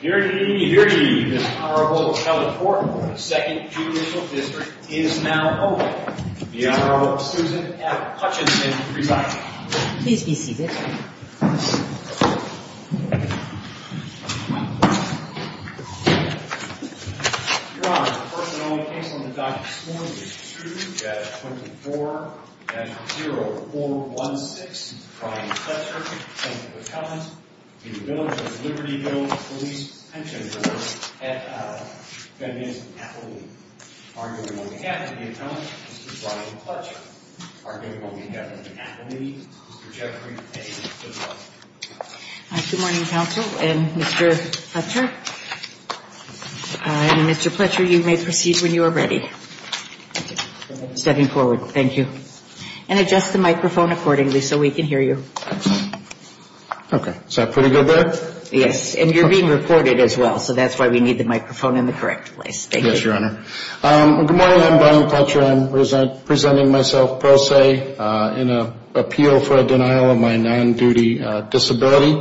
Here to give you this Honorable Appellate Court of the 2nd Judicial District is now open. The Honorable Susan F. Hutchinson presiding. Please be seated. Your Honor, the first and only case on the docket this morning is 2-24-0416, Brian Fletcher v. Village of Libertyville Police Pension Board, and that is appellate. Arguably on behalf of the appellate, Mr. Brian Fletcher. Arguably on behalf of the appellate, Mr. Jeffrey A. Fitzgerald. Good morning, Counsel and Mr. Fletcher. And Mr. Fletcher, you may proceed when you are ready. Thank you. Stepping forward. Thank you. And adjust the microphone accordingly so we can hear you. Okay. Is that pretty good there? Yes, and you're being recorded as well, so that's why we need the microphone in the correct place. Thank you. Yes, Your Honor. Good morning, I'm Brian Fletcher. I'm presenting myself pro se in an appeal for a denial of my non-duty disability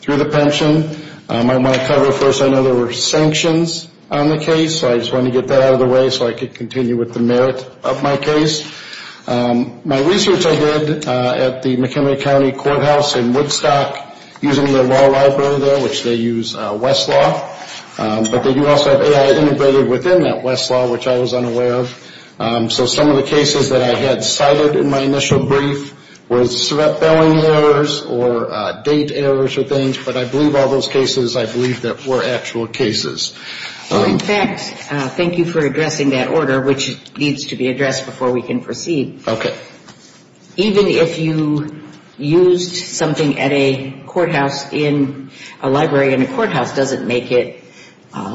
through the pension. I want to cover first, I know there were sanctions on the case, so I just wanted to get that out of the way so I could continue with the merit of my case. My research I did at the McHenry County Courthouse in Woodstock using the law library there, which they use Westlaw, but they do also have AI integrated within that Westlaw, which I was unaware of. So some of the cases that I had cited in my initial brief was bailing errors or date errors or things, but I believe all those cases, I believe that were actual cases. In fact, thank you for addressing that order, which needs to be addressed before we can proceed. Even if you used something at a courthouse in a library in a courthouse doesn't make it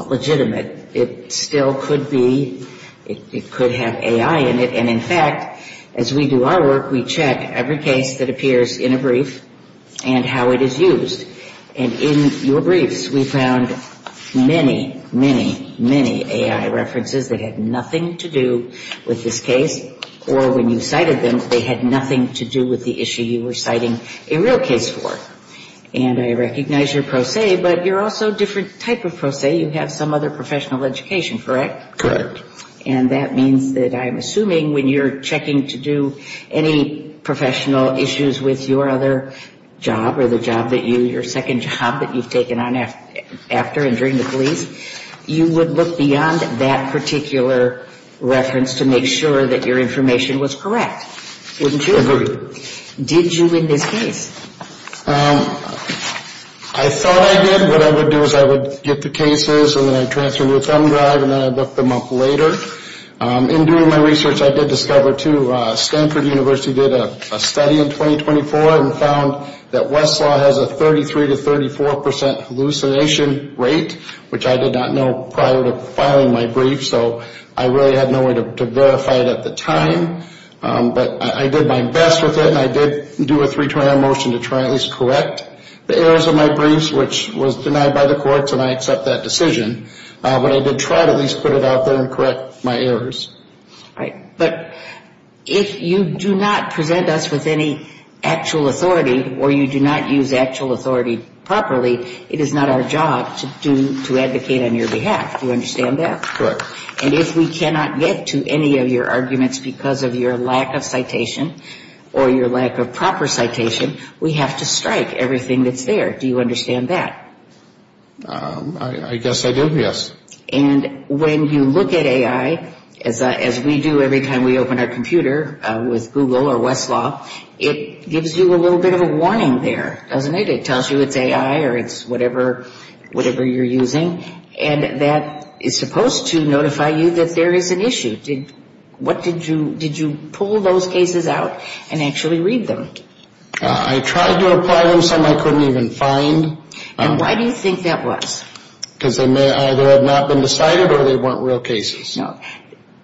legitimate. It still could be, it could have AI in it, and in fact, as we do our work, we check every case that appears in a brief and how it is used. And in your briefs, we found many, many, many AI references that had nothing to do with this case, or when you cited them, they had nothing to do with the issue you were citing a real case for. And I recognize your pro se, but you're also a different type of pro se. You have some other professional education, correct? Correct. And that means that I'm assuming when you're checking to do any professional issues with your other job or the job that you, your second job that you've taken on after injuring the police, you would look beyond that particular reference to make sure that your information was correct. Wouldn't you? Did you in this case? I thought I did. What I would do is I would get the cases, and then I'd transfer them to a thumb drive, and then I'd look them up later. In doing my research, I did discover, too, Stanford University did a study in 2024 and found that Westlaw has a 33% to 34% hallucination rate, which I did not know prior to filing my brief. So I really had no way to verify it at the time. But I did my best with it, and I did do a three-triangle motion to try and at least correct the errors of my briefs, which was denied by the courts, and I accept that decision. But I did try to at least put it out there and correct my errors. But if you do not present us with any actual authority or you do not use actual authority properly, it is not our job to advocate on your behalf. Do you understand that? Correct. And if we cannot get to any of your arguments because of your lack of citation or your lack of proper citation, we have to strike everything that's there. Do you understand that? I guess I do, yes. And when you look at AI, as we do every time we open our computer with Google or Westlaw, it gives you a little bit of a warning there, doesn't it? It tells you it's AI or it's whatever you're using, and that is supposed to notify you that there is an issue. Did you pull those cases out and actually read them? I tried to apply them, some I couldn't even find. And why do you think that was? Because they may either have not been decided or they weren't real cases. No.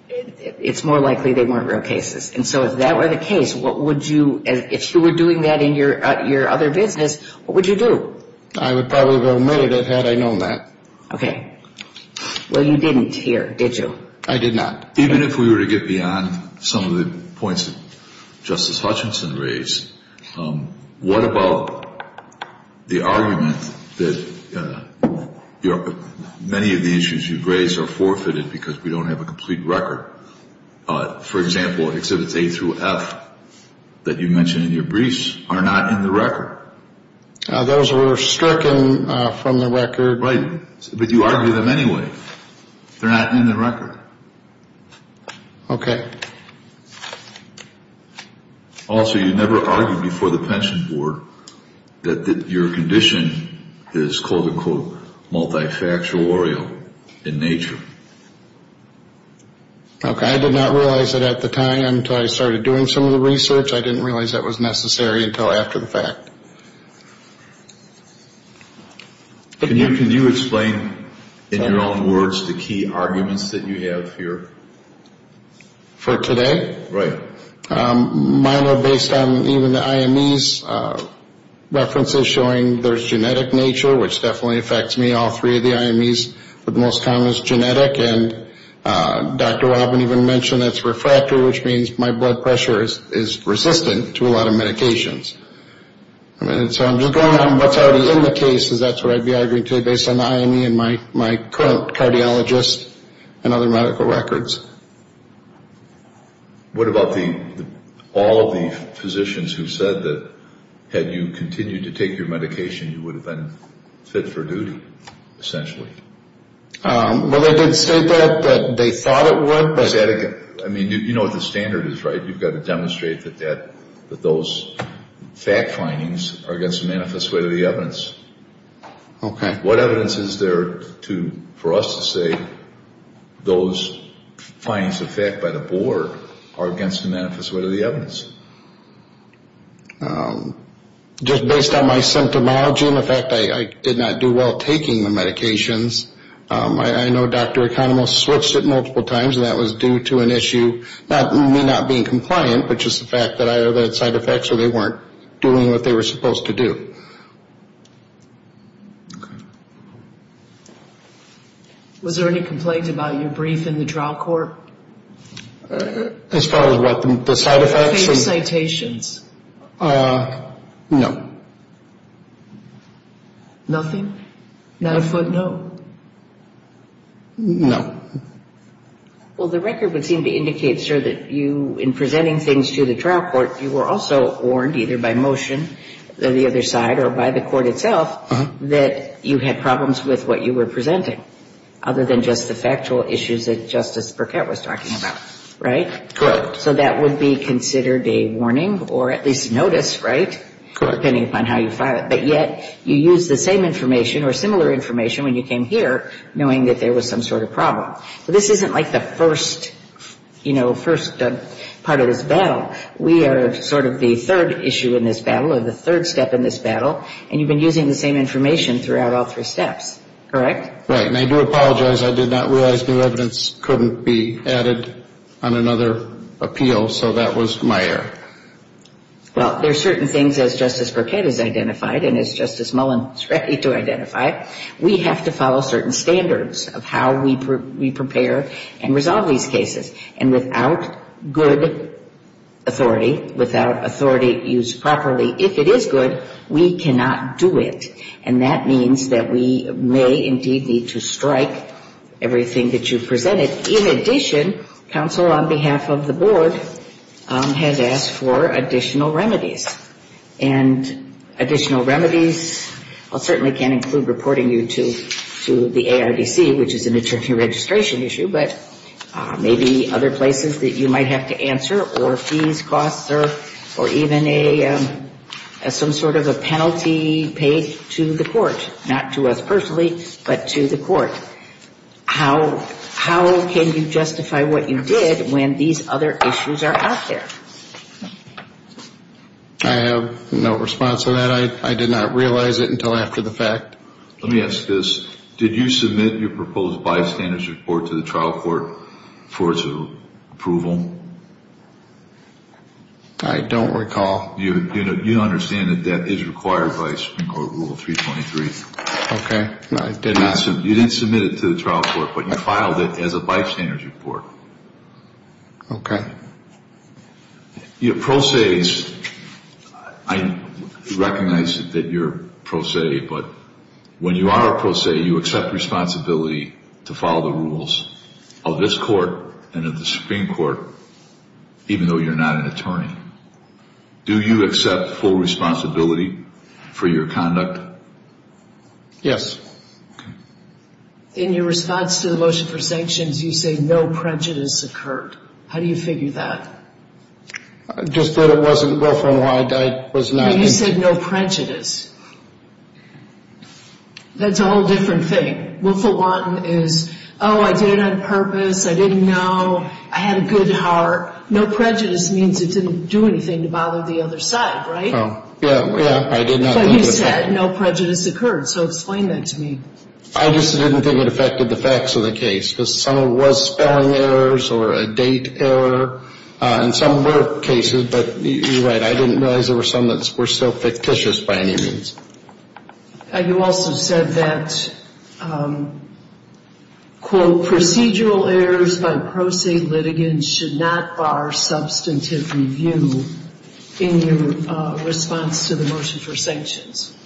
It's more likely they weren't real cases. And so if that were the case, what would you, if you were doing that in your other business, what would you do? I would probably have omitted it had I known that. Okay. Well, you didn't here, did you? I did not. Even if we were to get beyond some of the points that Justice Hutchinson raised, what about the argument that many of the issues you've raised are forfeited because we don't have a complete record? For example, Exhibits A through F that you mentioned in your briefs are not in the record. Those were stricken from the record. Right. But you argue them anyway. They're not in the record. Okay. Also, you never argued before the Pension Board that your condition is, quote, unquote, multifactorial in nature. Okay. I did not realize it at the time until I started doing some of the research. I didn't realize that was necessary until after the fact. Can you explain in your own words the key arguments that you have here? For today? Right. Mine are based on even the IME's references showing there's genetic nature, which definitely affects me, all three of the IME's, but the most common is genetic. And Dr. Robin even mentioned that's refractory, which means my blood pressure is resistant to a lot of medications. And so I'm just going on what's already in the case, because that's what I'd be arguing today based on the IME and my current cardiologist and other medical records. What about all of the physicians who said that had you continued to take your medication, you would have been fit for duty, essentially? Well, they did state that, that they thought it would. I mean, you know what the standard is, right? You've got to demonstrate that those fact findings are against the manifest way of the evidence. What evidence is there for us to say those findings of fact by the board are against the manifest way of the evidence? Just based on my symptomology and the fact I did not do well taking the medications, I know Dr. Economos switched it multiple times, and that was due to an issue, not me not being compliant, but just the fact that I either had side effects or they weren't doing what they were supposed to do. Was there any complaint about your brief in the trial court? As far as what, the side effects? Fake citations. No. Nothing? Not a footnote? No. Well, the record would seem to indicate, sir, that you, in presenting things to the trial court, you were also warned either by motion on the other side or by the court itself that you had problems with what you were presenting, other than just the factual issues that Justice Burkett was talking about, right? Correct. So that would be considered a warning or at least notice, right, depending upon how you file it. But yet you used the same information or similar information when you came here knowing that there was some sort of problem. So this isn't like the first, you know, first part of this battle. We are sort of the third issue in this battle or the third step in this battle, and you've been using the same information throughout all three steps, correct? Right. And I do apologize. I did not realize new evidence couldn't be added on another appeal, so that was my error. Well, there are certain things, as Justice Burkett has identified and as Justice Mullen is ready to identify, we have to follow certain standards of how we prepare and resolve these cases. And without good authority, without authority used properly, if it is good, we cannot do it. And that means that we may indeed need to strike everything that you presented. In addition, counsel on behalf of the board has asked for additional remedies. And additional remedies certainly can include reporting you to the ARDC, which is an attorney registration issue, but maybe other places that you might have to answer or fees, costs, or even some sort of a penalty paid to the court, not to us personally, but to the court. How can you justify what you did when these other issues are out there? I have no response to that. I did not realize it until after the fact. Let me ask this. Did you submit your proposed bystander's report to the trial court for its approval? I don't recall. You understand that that is required by Supreme Court Rule 323. Okay. You didn't submit it to the trial court, but you filed it as a bystander's report. Okay. Your pro se, I recognize that you're pro se, but when you are a pro se you accept responsibility to follow the rules of this court and of the Supreme Court, even though you're not an attorney. Do you accept full responsibility for your conduct? Yes. Okay. In your response to the motion for sanctions, you say no prejudice occurred. How do you figure that? Just that it wasn't willful and wide. You said no prejudice. That's a whole different thing. Willful one is, oh, I did it on purpose, I didn't know, I had a good heart. No prejudice means it didn't do anything to bother the other side, right? Yeah, I did not. But you said no prejudice occurred, so explain that to me. I just didn't think it affected the facts of the case because some of it was spelling errors or a date error, and some were cases, but you're right, I didn't realize there were some that were so fictitious by any means. You also said that, quote, procedural errors by pro se litigants should not bar substantive review in your response to the motion for sanctions.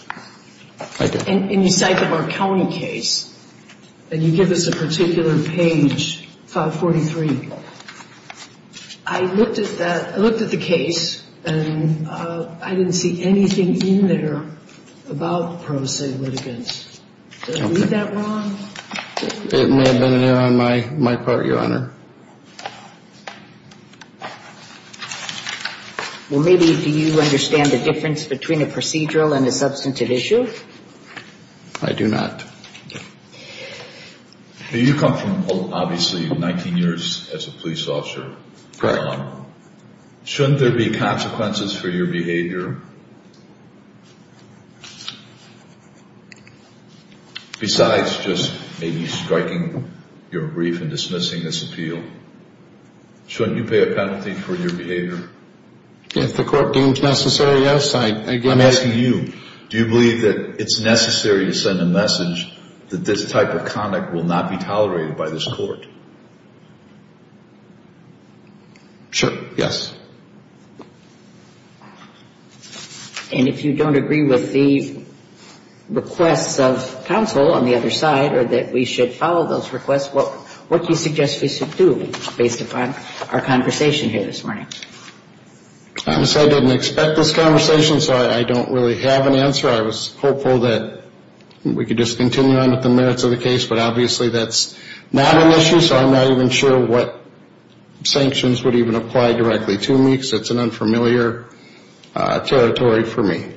I did. And you cite the Marconi case, and you give us a particular page, 543. I looked at that, I looked at the case, and I didn't see anything in there about pro se litigants. Did I read that wrong? It may have been an error on my part, Your Honor. Well, maybe do you understand the difference between a procedural and a substantive issue? I do not. You come from, obviously, 19 years as a police officer. Shouldn't there be consequences for your behavior? Besides just maybe striking your brief and dismissing this appeal, shouldn't you pay a penalty for your behavior? If the court deems necessary, yes. I'm asking you, do you believe that it's necessary to send a message that this type of conduct will not be tolerated by this court? Sure, yes. And if you don't agree with the requests of counsel on the other side, or that we should follow those requests, what do you suggest we should do based upon our conversation here this morning? I'm sorry, I didn't expect this conversation, so I don't really have an answer. I was hopeful that we could just continue on with the merits of the case, but obviously that's not an issue, so I'm not even sure what sanctions would even apply directly to me, because it's an unfamiliar territory for me.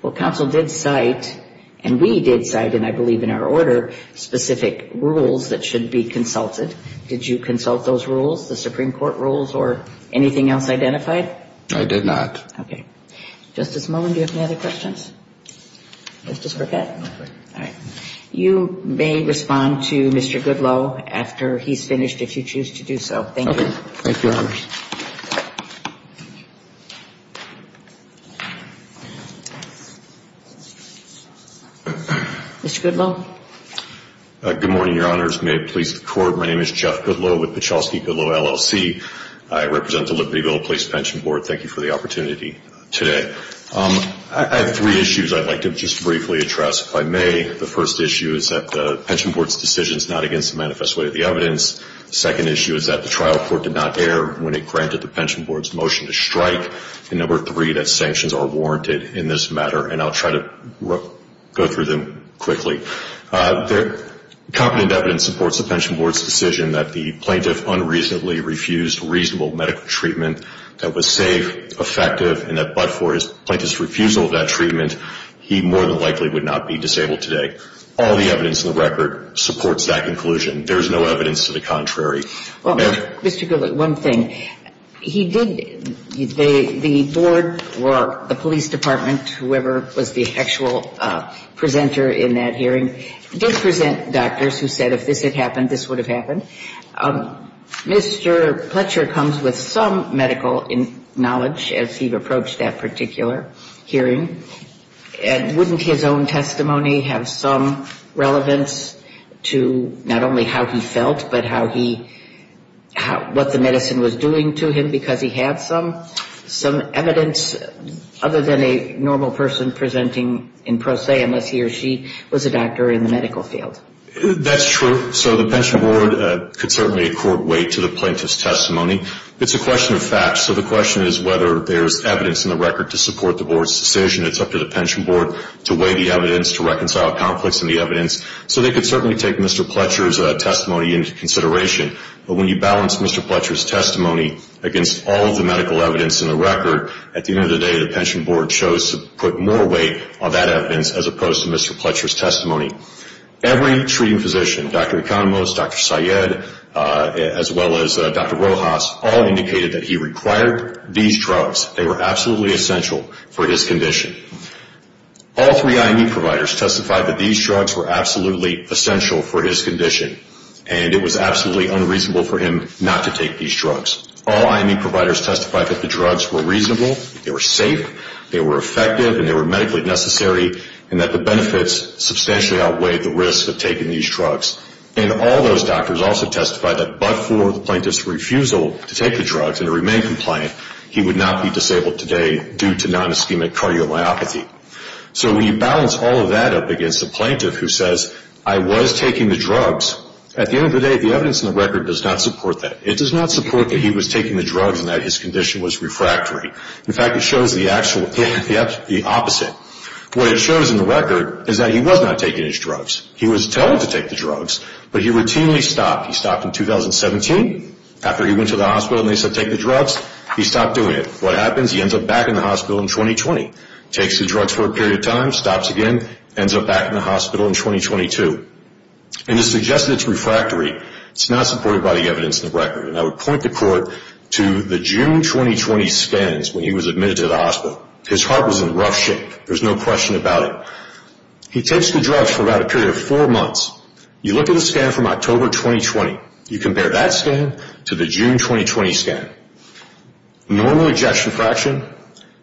Well, counsel did cite, and we did cite, and I believe in our order, specific rules that should be consulted. Did you consult those rules, the Supreme Court rules, or anything else identified? I did not. Okay. Justice Mullen, do you have any other questions? Justice Burkett? All right. You may respond to Mr. Goodloe after he's finished, if you choose to do so. Thank you. Thank you, Your Honor. Mr. Goodloe? Good morning, Your Honors. May it please the Court, my name is Jeff Goodloe with Pachowski Goodloe LLC. I represent the Libertyville Police Pension Board. Thank you for the opportunity today. I have three issues I'd like to just briefly address. If I may, the first issue is that the pension board's decision is not against the manifest way of the evidence. The second issue is that the trial court did not err when it granted the pension board's motion to strike. And number three, that sanctions are warranted in this matter. And I'll try to go through them quickly. Competent evidence supports the pension board's decision that the plaintiff unreasonably refused reasonable medical treatment that was safe, effective, and that but for his plaintiff's refusal of that treatment, he more than likely would not be disabled today. All the evidence in the record supports that conclusion. There is no evidence to the contrary. Mr. Goodloe, one thing. He did, the board or the police department, whoever was the actual presenter in that hearing, did present doctors who said if this had happened, this would have happened. Mr. Pletcher comes with some medical knowledge as he approached that particular hearing. And wouldn't his own testimony have some relevance to not only how he felt, but how he, what the medicine was doing to him because he had some evidence other than a normal person presenting in pro se, unless he or she was a doctor in the medical field. That's true. So the pension board could certainly accord weight to the plaintiff's testimony. It's a question of facts. So the question is whether there's evidence in the record to support the board's decision. It's up to the pension board to weigh the evidence, to reconcile conflicts in the evidence. So they could certainly take Mr. Pletcher's testimony into consideration. But when you balance Mr. Pletcher's testimony against all of the medical evidence in the record, at the end of the day, the pension board chose to put more weight on that evidence as opposed to Mr. Pletcher's testimony. Every treating physician, Dr. Economos, Dr. Syed, as well as Dr. Rojas, all indicated that he required these drugs. They were absolutely essential for his condition. All three IME providers testified that these drugs were absolutely essential for his condition, and it was absolutely unreasonable for him not to take these drugs. All IME providers testified that the drugs were reasonable, they were safe, they were effective, and they were medically necessary and that the benefits substantially outweighed the risk of taking these drugs. And all those doctors also testified that but for the plaintiff's refusal to take the drugs and to remain compliant, he would not be disabled today due to non-ischemic cardiomyopathy. So when you balance all of that up against a plaintiff who says, I was taking the drugs, at the end of the day, the evidence in the record does not support that. It does not support that he was taking the drugs and that his condition was refractory. In fact, it shows the opposite. What it shows in the record is that he was not taking his drugs. He was telling to take the drugs, but he routinely stopped. He stopped in 2017 after he went to the hospital and they said take the drugs. He stopped doing it. What happens? He ends up back in the hospital in 2020. Takes the drugs for a period of time, stops again, ends up back in the hospital in 2022. And it suggests that it's refractory. It's not supported by the evidence in the record. And I would point the court to the June 2020 scans when he was admitted to the hospital. His heart was in rough shape. There's no question about it. He takes the drugs for about a period of four months. You look at a scan from October 2020. You compare that scan to the June 2020 scan. Normal ejection fraction,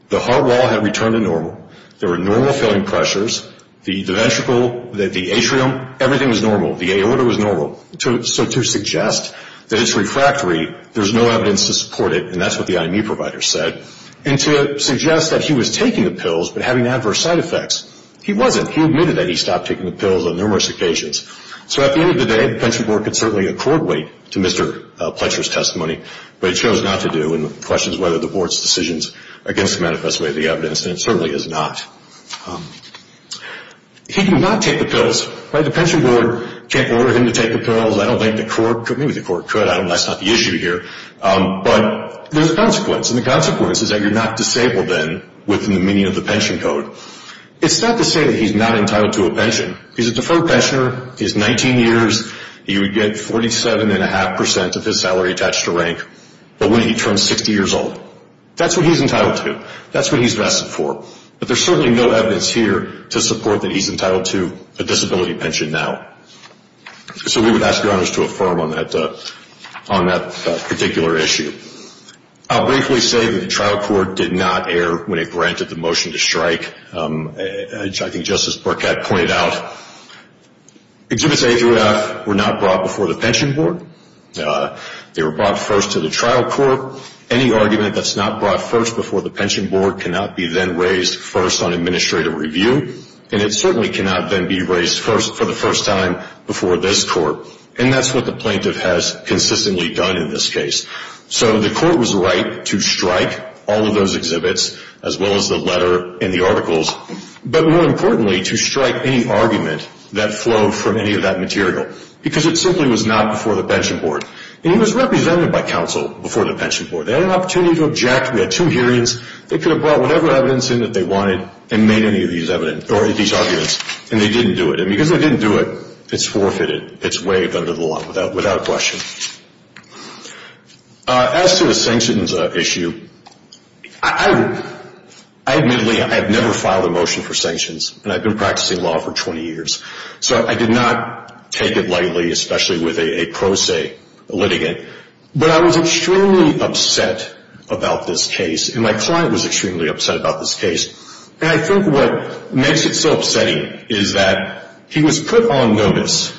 the heart wall had returned to normal. There were normal filling pressures. The ventricle, the atrium, everything was normal. The aorta was normal. So to suggest that it's refractory, there's no evidence to support it, and that's what the IMU provider said. And to suggest that he was taking the pills but having adverse side effects, he wasn't. He admitted that he stopped taking the pills on numerous occasions. So at the end of the day, the Pension Board could certainly accord weight to Mr. Pletcher's testimony, but it chose not to do and questions whether the Board's decisions against the manifest way of the evidence, and it certainly is not. He did not take the pills. The Pension Board can't order him to take the pills. I don't think the court could. Maybe the court could. That's not the issue here. But there's consequence, and the consequence is that you're not disabled then within the meaning of the pension code. It's sad to say that he's not entitled to a pension. He's a deferred pensioner. He has 19 years. He would get 47.5% of his salary attached to rank, but wouldn't he turn 60 years old? That's what he's entitled to. That's what he's vested for. But there's certainly no evidence here to support that he's entitled to a disability pension now. So we would ask your honors to affirm on that particular issue. I'll briefly say that the trial court did not err when it granted the motion to strike, which I think Justice Burkett pointed out. Exhibits A through F were not brought before the Pension Board. They were brought first to the trial court. Any argument that's not brought first before the Pension Board cannot be then raised first on administrative review, and it certainly cannot then be raised for the first time before this court. And that's what the plaintiff has consistently done in this case. So the court was right to strike all of those exhibits as well as the letter and the articles, but more importantly to strike any argument that flowed from any of that material because it simply was not before the Pension Board. And he was represented by counsel before the Pension Board. They had an opportunity to object. We had two hearings. They could have brought whatever evidence in that they wanted and made any of these arguments, and they didn't do it. And because they didn't do it, it's forfeited. It's waived under the law without question. As to the sanctions issue, I admittedly have never filed a motion for sanctions, and I've been practicing law for 20 years. So I did not take it lightly, especially with a pro se litigant. But I was extremely upset about this case, and my client was extremely upset about this case. And I think what makes it so upsetting is that he was put on notice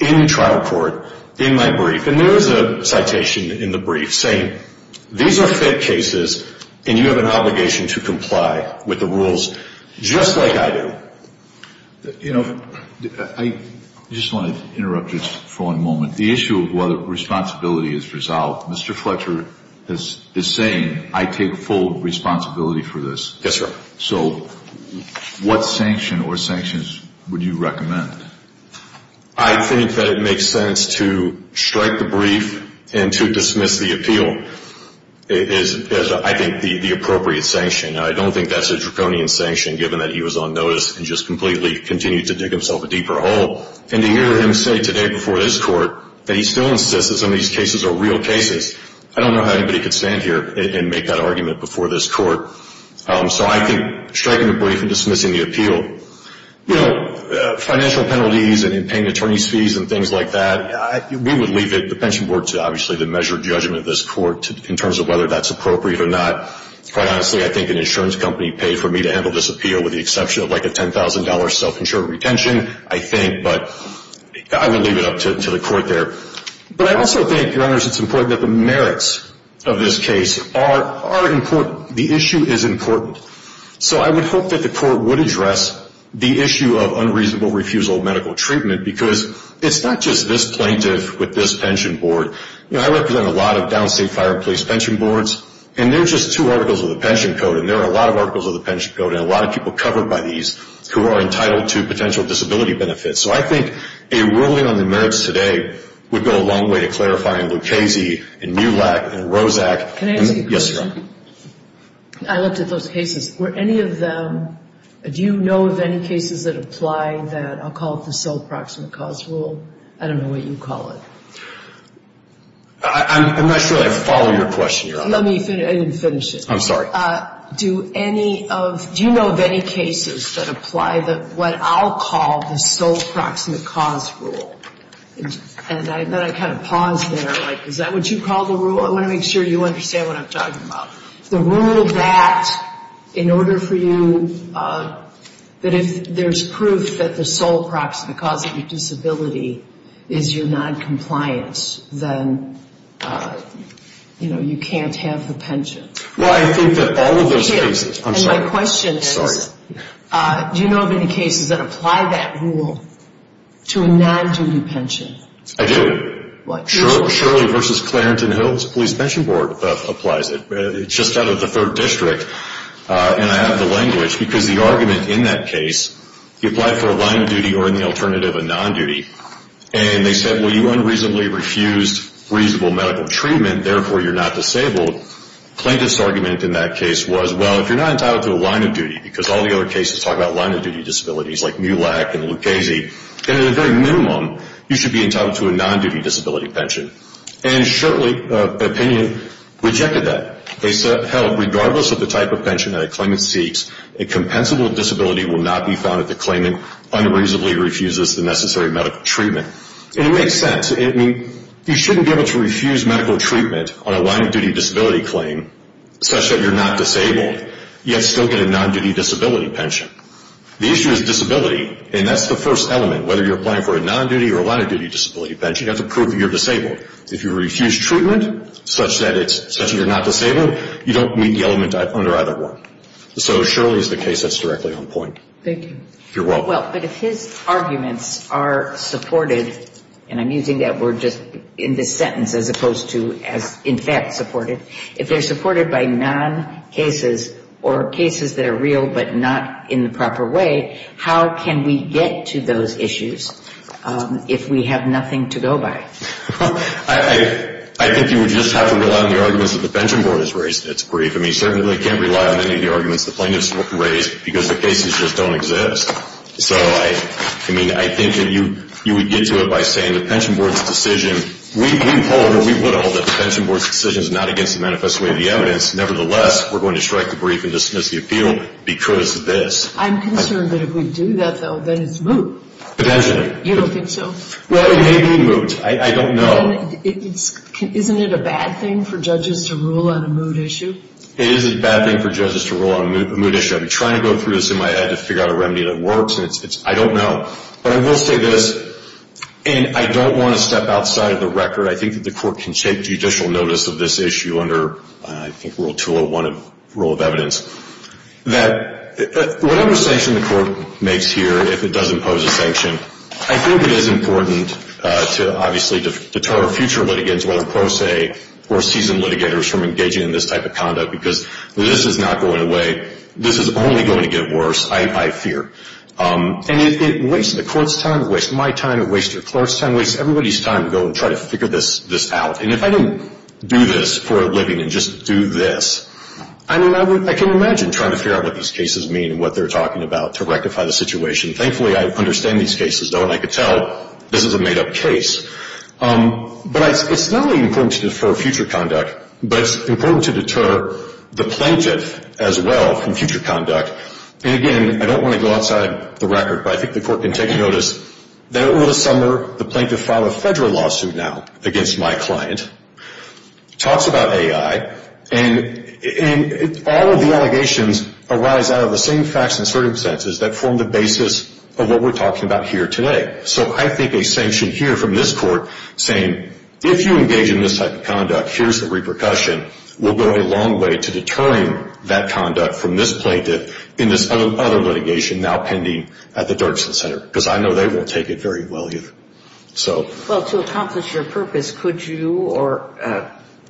in trial court in my brief, and there is a citation in the brief saying, These are FIT cases, and you have an obligation to comply with the rules just like I do. You know, I just want to interrupt you for one moment. The issue of whether responsibility is resolved, Mr. Fletcher is saying, I take full responsibility for this. Yes, sir. So what sanction or sanctions would you recommend? I think that it makes sense to strike the brief and to dismiss the appeal is, I think, the appropriate sanction. I don't think that's a draconian sanction, given that he was on notice and just completely continued to dig himself a deeper hole. And to hear him say today before this court that he still insists that some of these cases are real cases, I don't know how anybody could stand here and make that argument before this court. So I think striking the brief and dismissing the appeal. You know, financial penalties and paying attorney's fees and things like that, we would leave it, the pension board, to obviously the measured judgment of this court in terms of whether that's appropriate or not. Quite honestly, I think an insurance company paid for me to handle this appeal with the exception of like a $10,000 self-insured retention, I think. But I would leave it up to the court there. But I also think, Your Honors, it's important that the merits of this case are important. The issue is important. So I would hope that the court would address the issue of unreasonable refusal of medical treatment because it's not just this plaintiff with this pension board. You know, I represent a lot of downstate fire and police pension boards, and they're just two articles of the pension code. And there are a lot of articles of the pension code and a lot of people covered by these who are entitled to potential disability benefits. So I think a ruling on the merits today would go a long way to clarifying Lucchese and MULAC and ROSAC. Can I ask a question? Yes, Your Honor. I looked at those cases. Were any of them, do you know of any cases that apply that, I'll call it the sole proximate cause rule? I don't know what you call it. I'm not sure I follow your question, Your Honor. Let me finish it. I'm sorry. Do any of, do you know of any cases that apply what I'll call the sole proximate cause rule? And then I kind of pause there. Like, is that what you call the rule? I want to make sure you understand what I'm talking about. The rule that, in order for you, that if there's proof that the sole proximate cause of your disability is your noncompliance, then, you know, you can't have the pension. Well, I think that all of those cases, I'm sorry. And my question is, do you know of any cases that apply that rule to a non-duty pension? I do. What? Shirley v. Clarenton Hills Police Pension Board applies it. It's just out of the 3rd District, and I have the language. Because the argument in that case, you apply for a line of duty or, in the alternative, a non-duty. And they said, well, you unreasonably refused reasonable medical treatment, therefore you're not disabled. Plaintiff's argument in that case was, well, if you're not entitled to a line of duty, because all the other cases talk about line of duty disabilities, like Mulak and Lucchese, and at a very minimum, you should be entitled to a non-duty disability pension. And Shirley, opinion, rejected that. They said, hell, regardless of the type of pension that a claimant seeks, a compensable disability will not be found if the claimant unreasonably refuses the necessary medical treatment. And it makes sense. I mean, you shouldn't be able to refuse medical treatment on a line of duty disability claim, such that you're not disabled, yet still get a non-duty disability pension. The issue is disability, and that's the first element, whether you're applying for a non-duty or a line of duty disability pension. You have to prove that you're disabled. If you refuse treatment such that you're not disabled, you don't meet the element under either one. So Shirley's the case that's directly on point. Thank you. You're welcome. Well, but if his arguments are supported, and I'm using that word just in this sentence as opposed to as in fact supported, if they're supported by non-cases or cases that are real but not in the proper way, how can we get to those issues if we have nothing to go by? I think you would just have to rely on the arguments that the pension board has raised. It's brief. I mean, you certainly can't rely on any of the arguments the plaintiffs raised because the cases just don't exist. So, I mean, I think if you would get to it by saying the pension board's decision, we would hold that the pension board's decision is not against the manifest way of the evidence. Nevertheless, we're going to strike the brief and dismiss the appeal because of this. I'm concerned that if we do that, though, then it's moot. Potentially. You don't think so? Well, it may be moot. I don't know. Isn't it a bad thing for judges to rule on a moot issue? It is a bad thing for judges to rule on a moot issue. I've been trying to go through this in my head to figure out a remedy that works, and I don't know. But I will say this, and I don't want to step outside of the record. I think that the court can take judicial notice of this issue under, I think, rule 201 of rule of evidence, that whatever sanction the court makes here, if it does impose a sanction, I think it is important to obviously deter future litigants, whether pro se or seasoned litigators, from engaging in this type of conduct because this is not going away. This is only going to get worse, I fear. And it wastes the court's time. It wastes my time. It wastes the court's time. It wastes everybody's time to go and try to figure this out. And if I didn't do this for a living and just do this, I mean, I can imagine trying to figure out what these cases mean and what they're talking about to rectify the situation. Thankfully, I understand these cases, though, and I can tell this is a made-up case. But it's not only important to defer future conduct, but it's important to deter the plaintiff as well from future conduct. And, again, I don't want to go outside the record, but I think the court can take notice that over the summer the plaintiff filed a federal lawsuit now against my client, talks about AI, and all of the allegations arise out of the same facts and circumstances that form the basis of what we're talking about here today. So I think a sanction here from this court saying, if you engage in this type of conduct, here's the repercussion, will go a long way to deterring that conduct from this plaintiff in this other litigation now pending at the Dirksen Center, because I know they will take it very well here. Well, to accomplish your purpose, could you or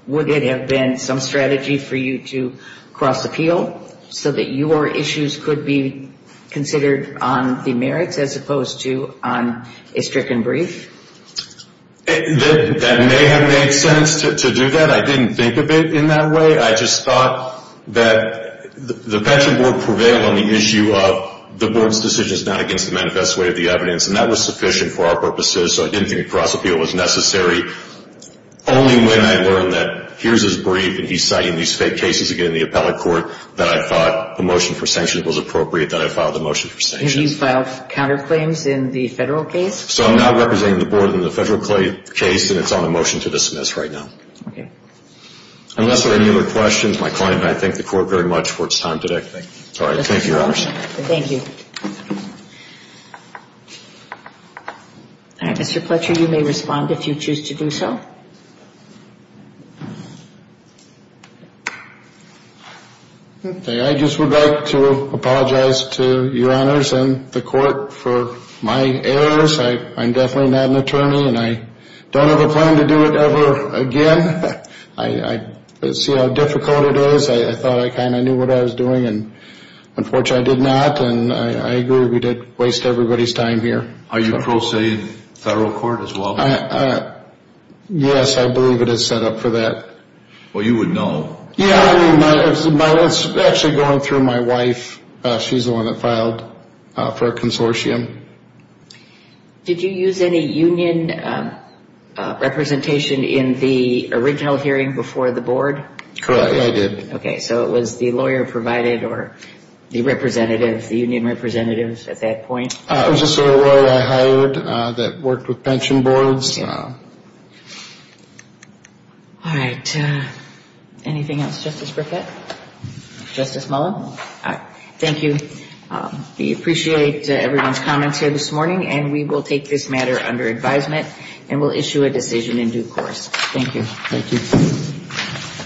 would it have been some strategy for you to cross-appeal so that your issues could be considered on the merits as opposed to on a stricken brief? That may have made sense to do that. I didn't think of it in that way. I just thought that the Pension Board prevailed on the issue of the Board's decision is not against the manifest way of the evidence, and that was sufficient for our purposes, so I didn't think a cross-appeal was necessary. Only when I learned that here's his brief and he's citing these fake cases again in the appellate court that I thought the motion for sanction was appropriate that I filed the motion for sanction. And you filed counterclaims in the federal case? So I'm not representing the Board in the federal case, and it's on a motion to dismiss right now. Okay. Unless there are any other questions, my client and I thank the Court very much for its time today. Thank you. Thank you, Your Honors. Thank you. Mr. Fletcher, you may respond if you choose to do so. Okay. I just would like to apologize to Your Honors and the Court for my errors. I'm definitely not an attorney, and I don't have a plan to do it ever again. I see how difficult it is. I thought I kind of knew what I was doing, and unfortunately I did not, and I agree we did waste everybody's time here. Are you pro se in federal court as well? Yes, I believe it is set up for that. Well, you would know. Yeah, I mean, it's actually going through my wife. She's the one that filed for a consortium. Did you use any union representation in the original hearing before the Board? Correct, I did. Okay. So it was the lawyer provided or the representatives, the union representatives at that point? It was just a lawyer I hired that worked with pension boards. All right. Anything else, Justice Burkett? Justice Mullen? Thank you. We appreciate everyone's comments here this morning, and we will take this matter under advisement and will issue a decision in due course. Thank you. Thank you.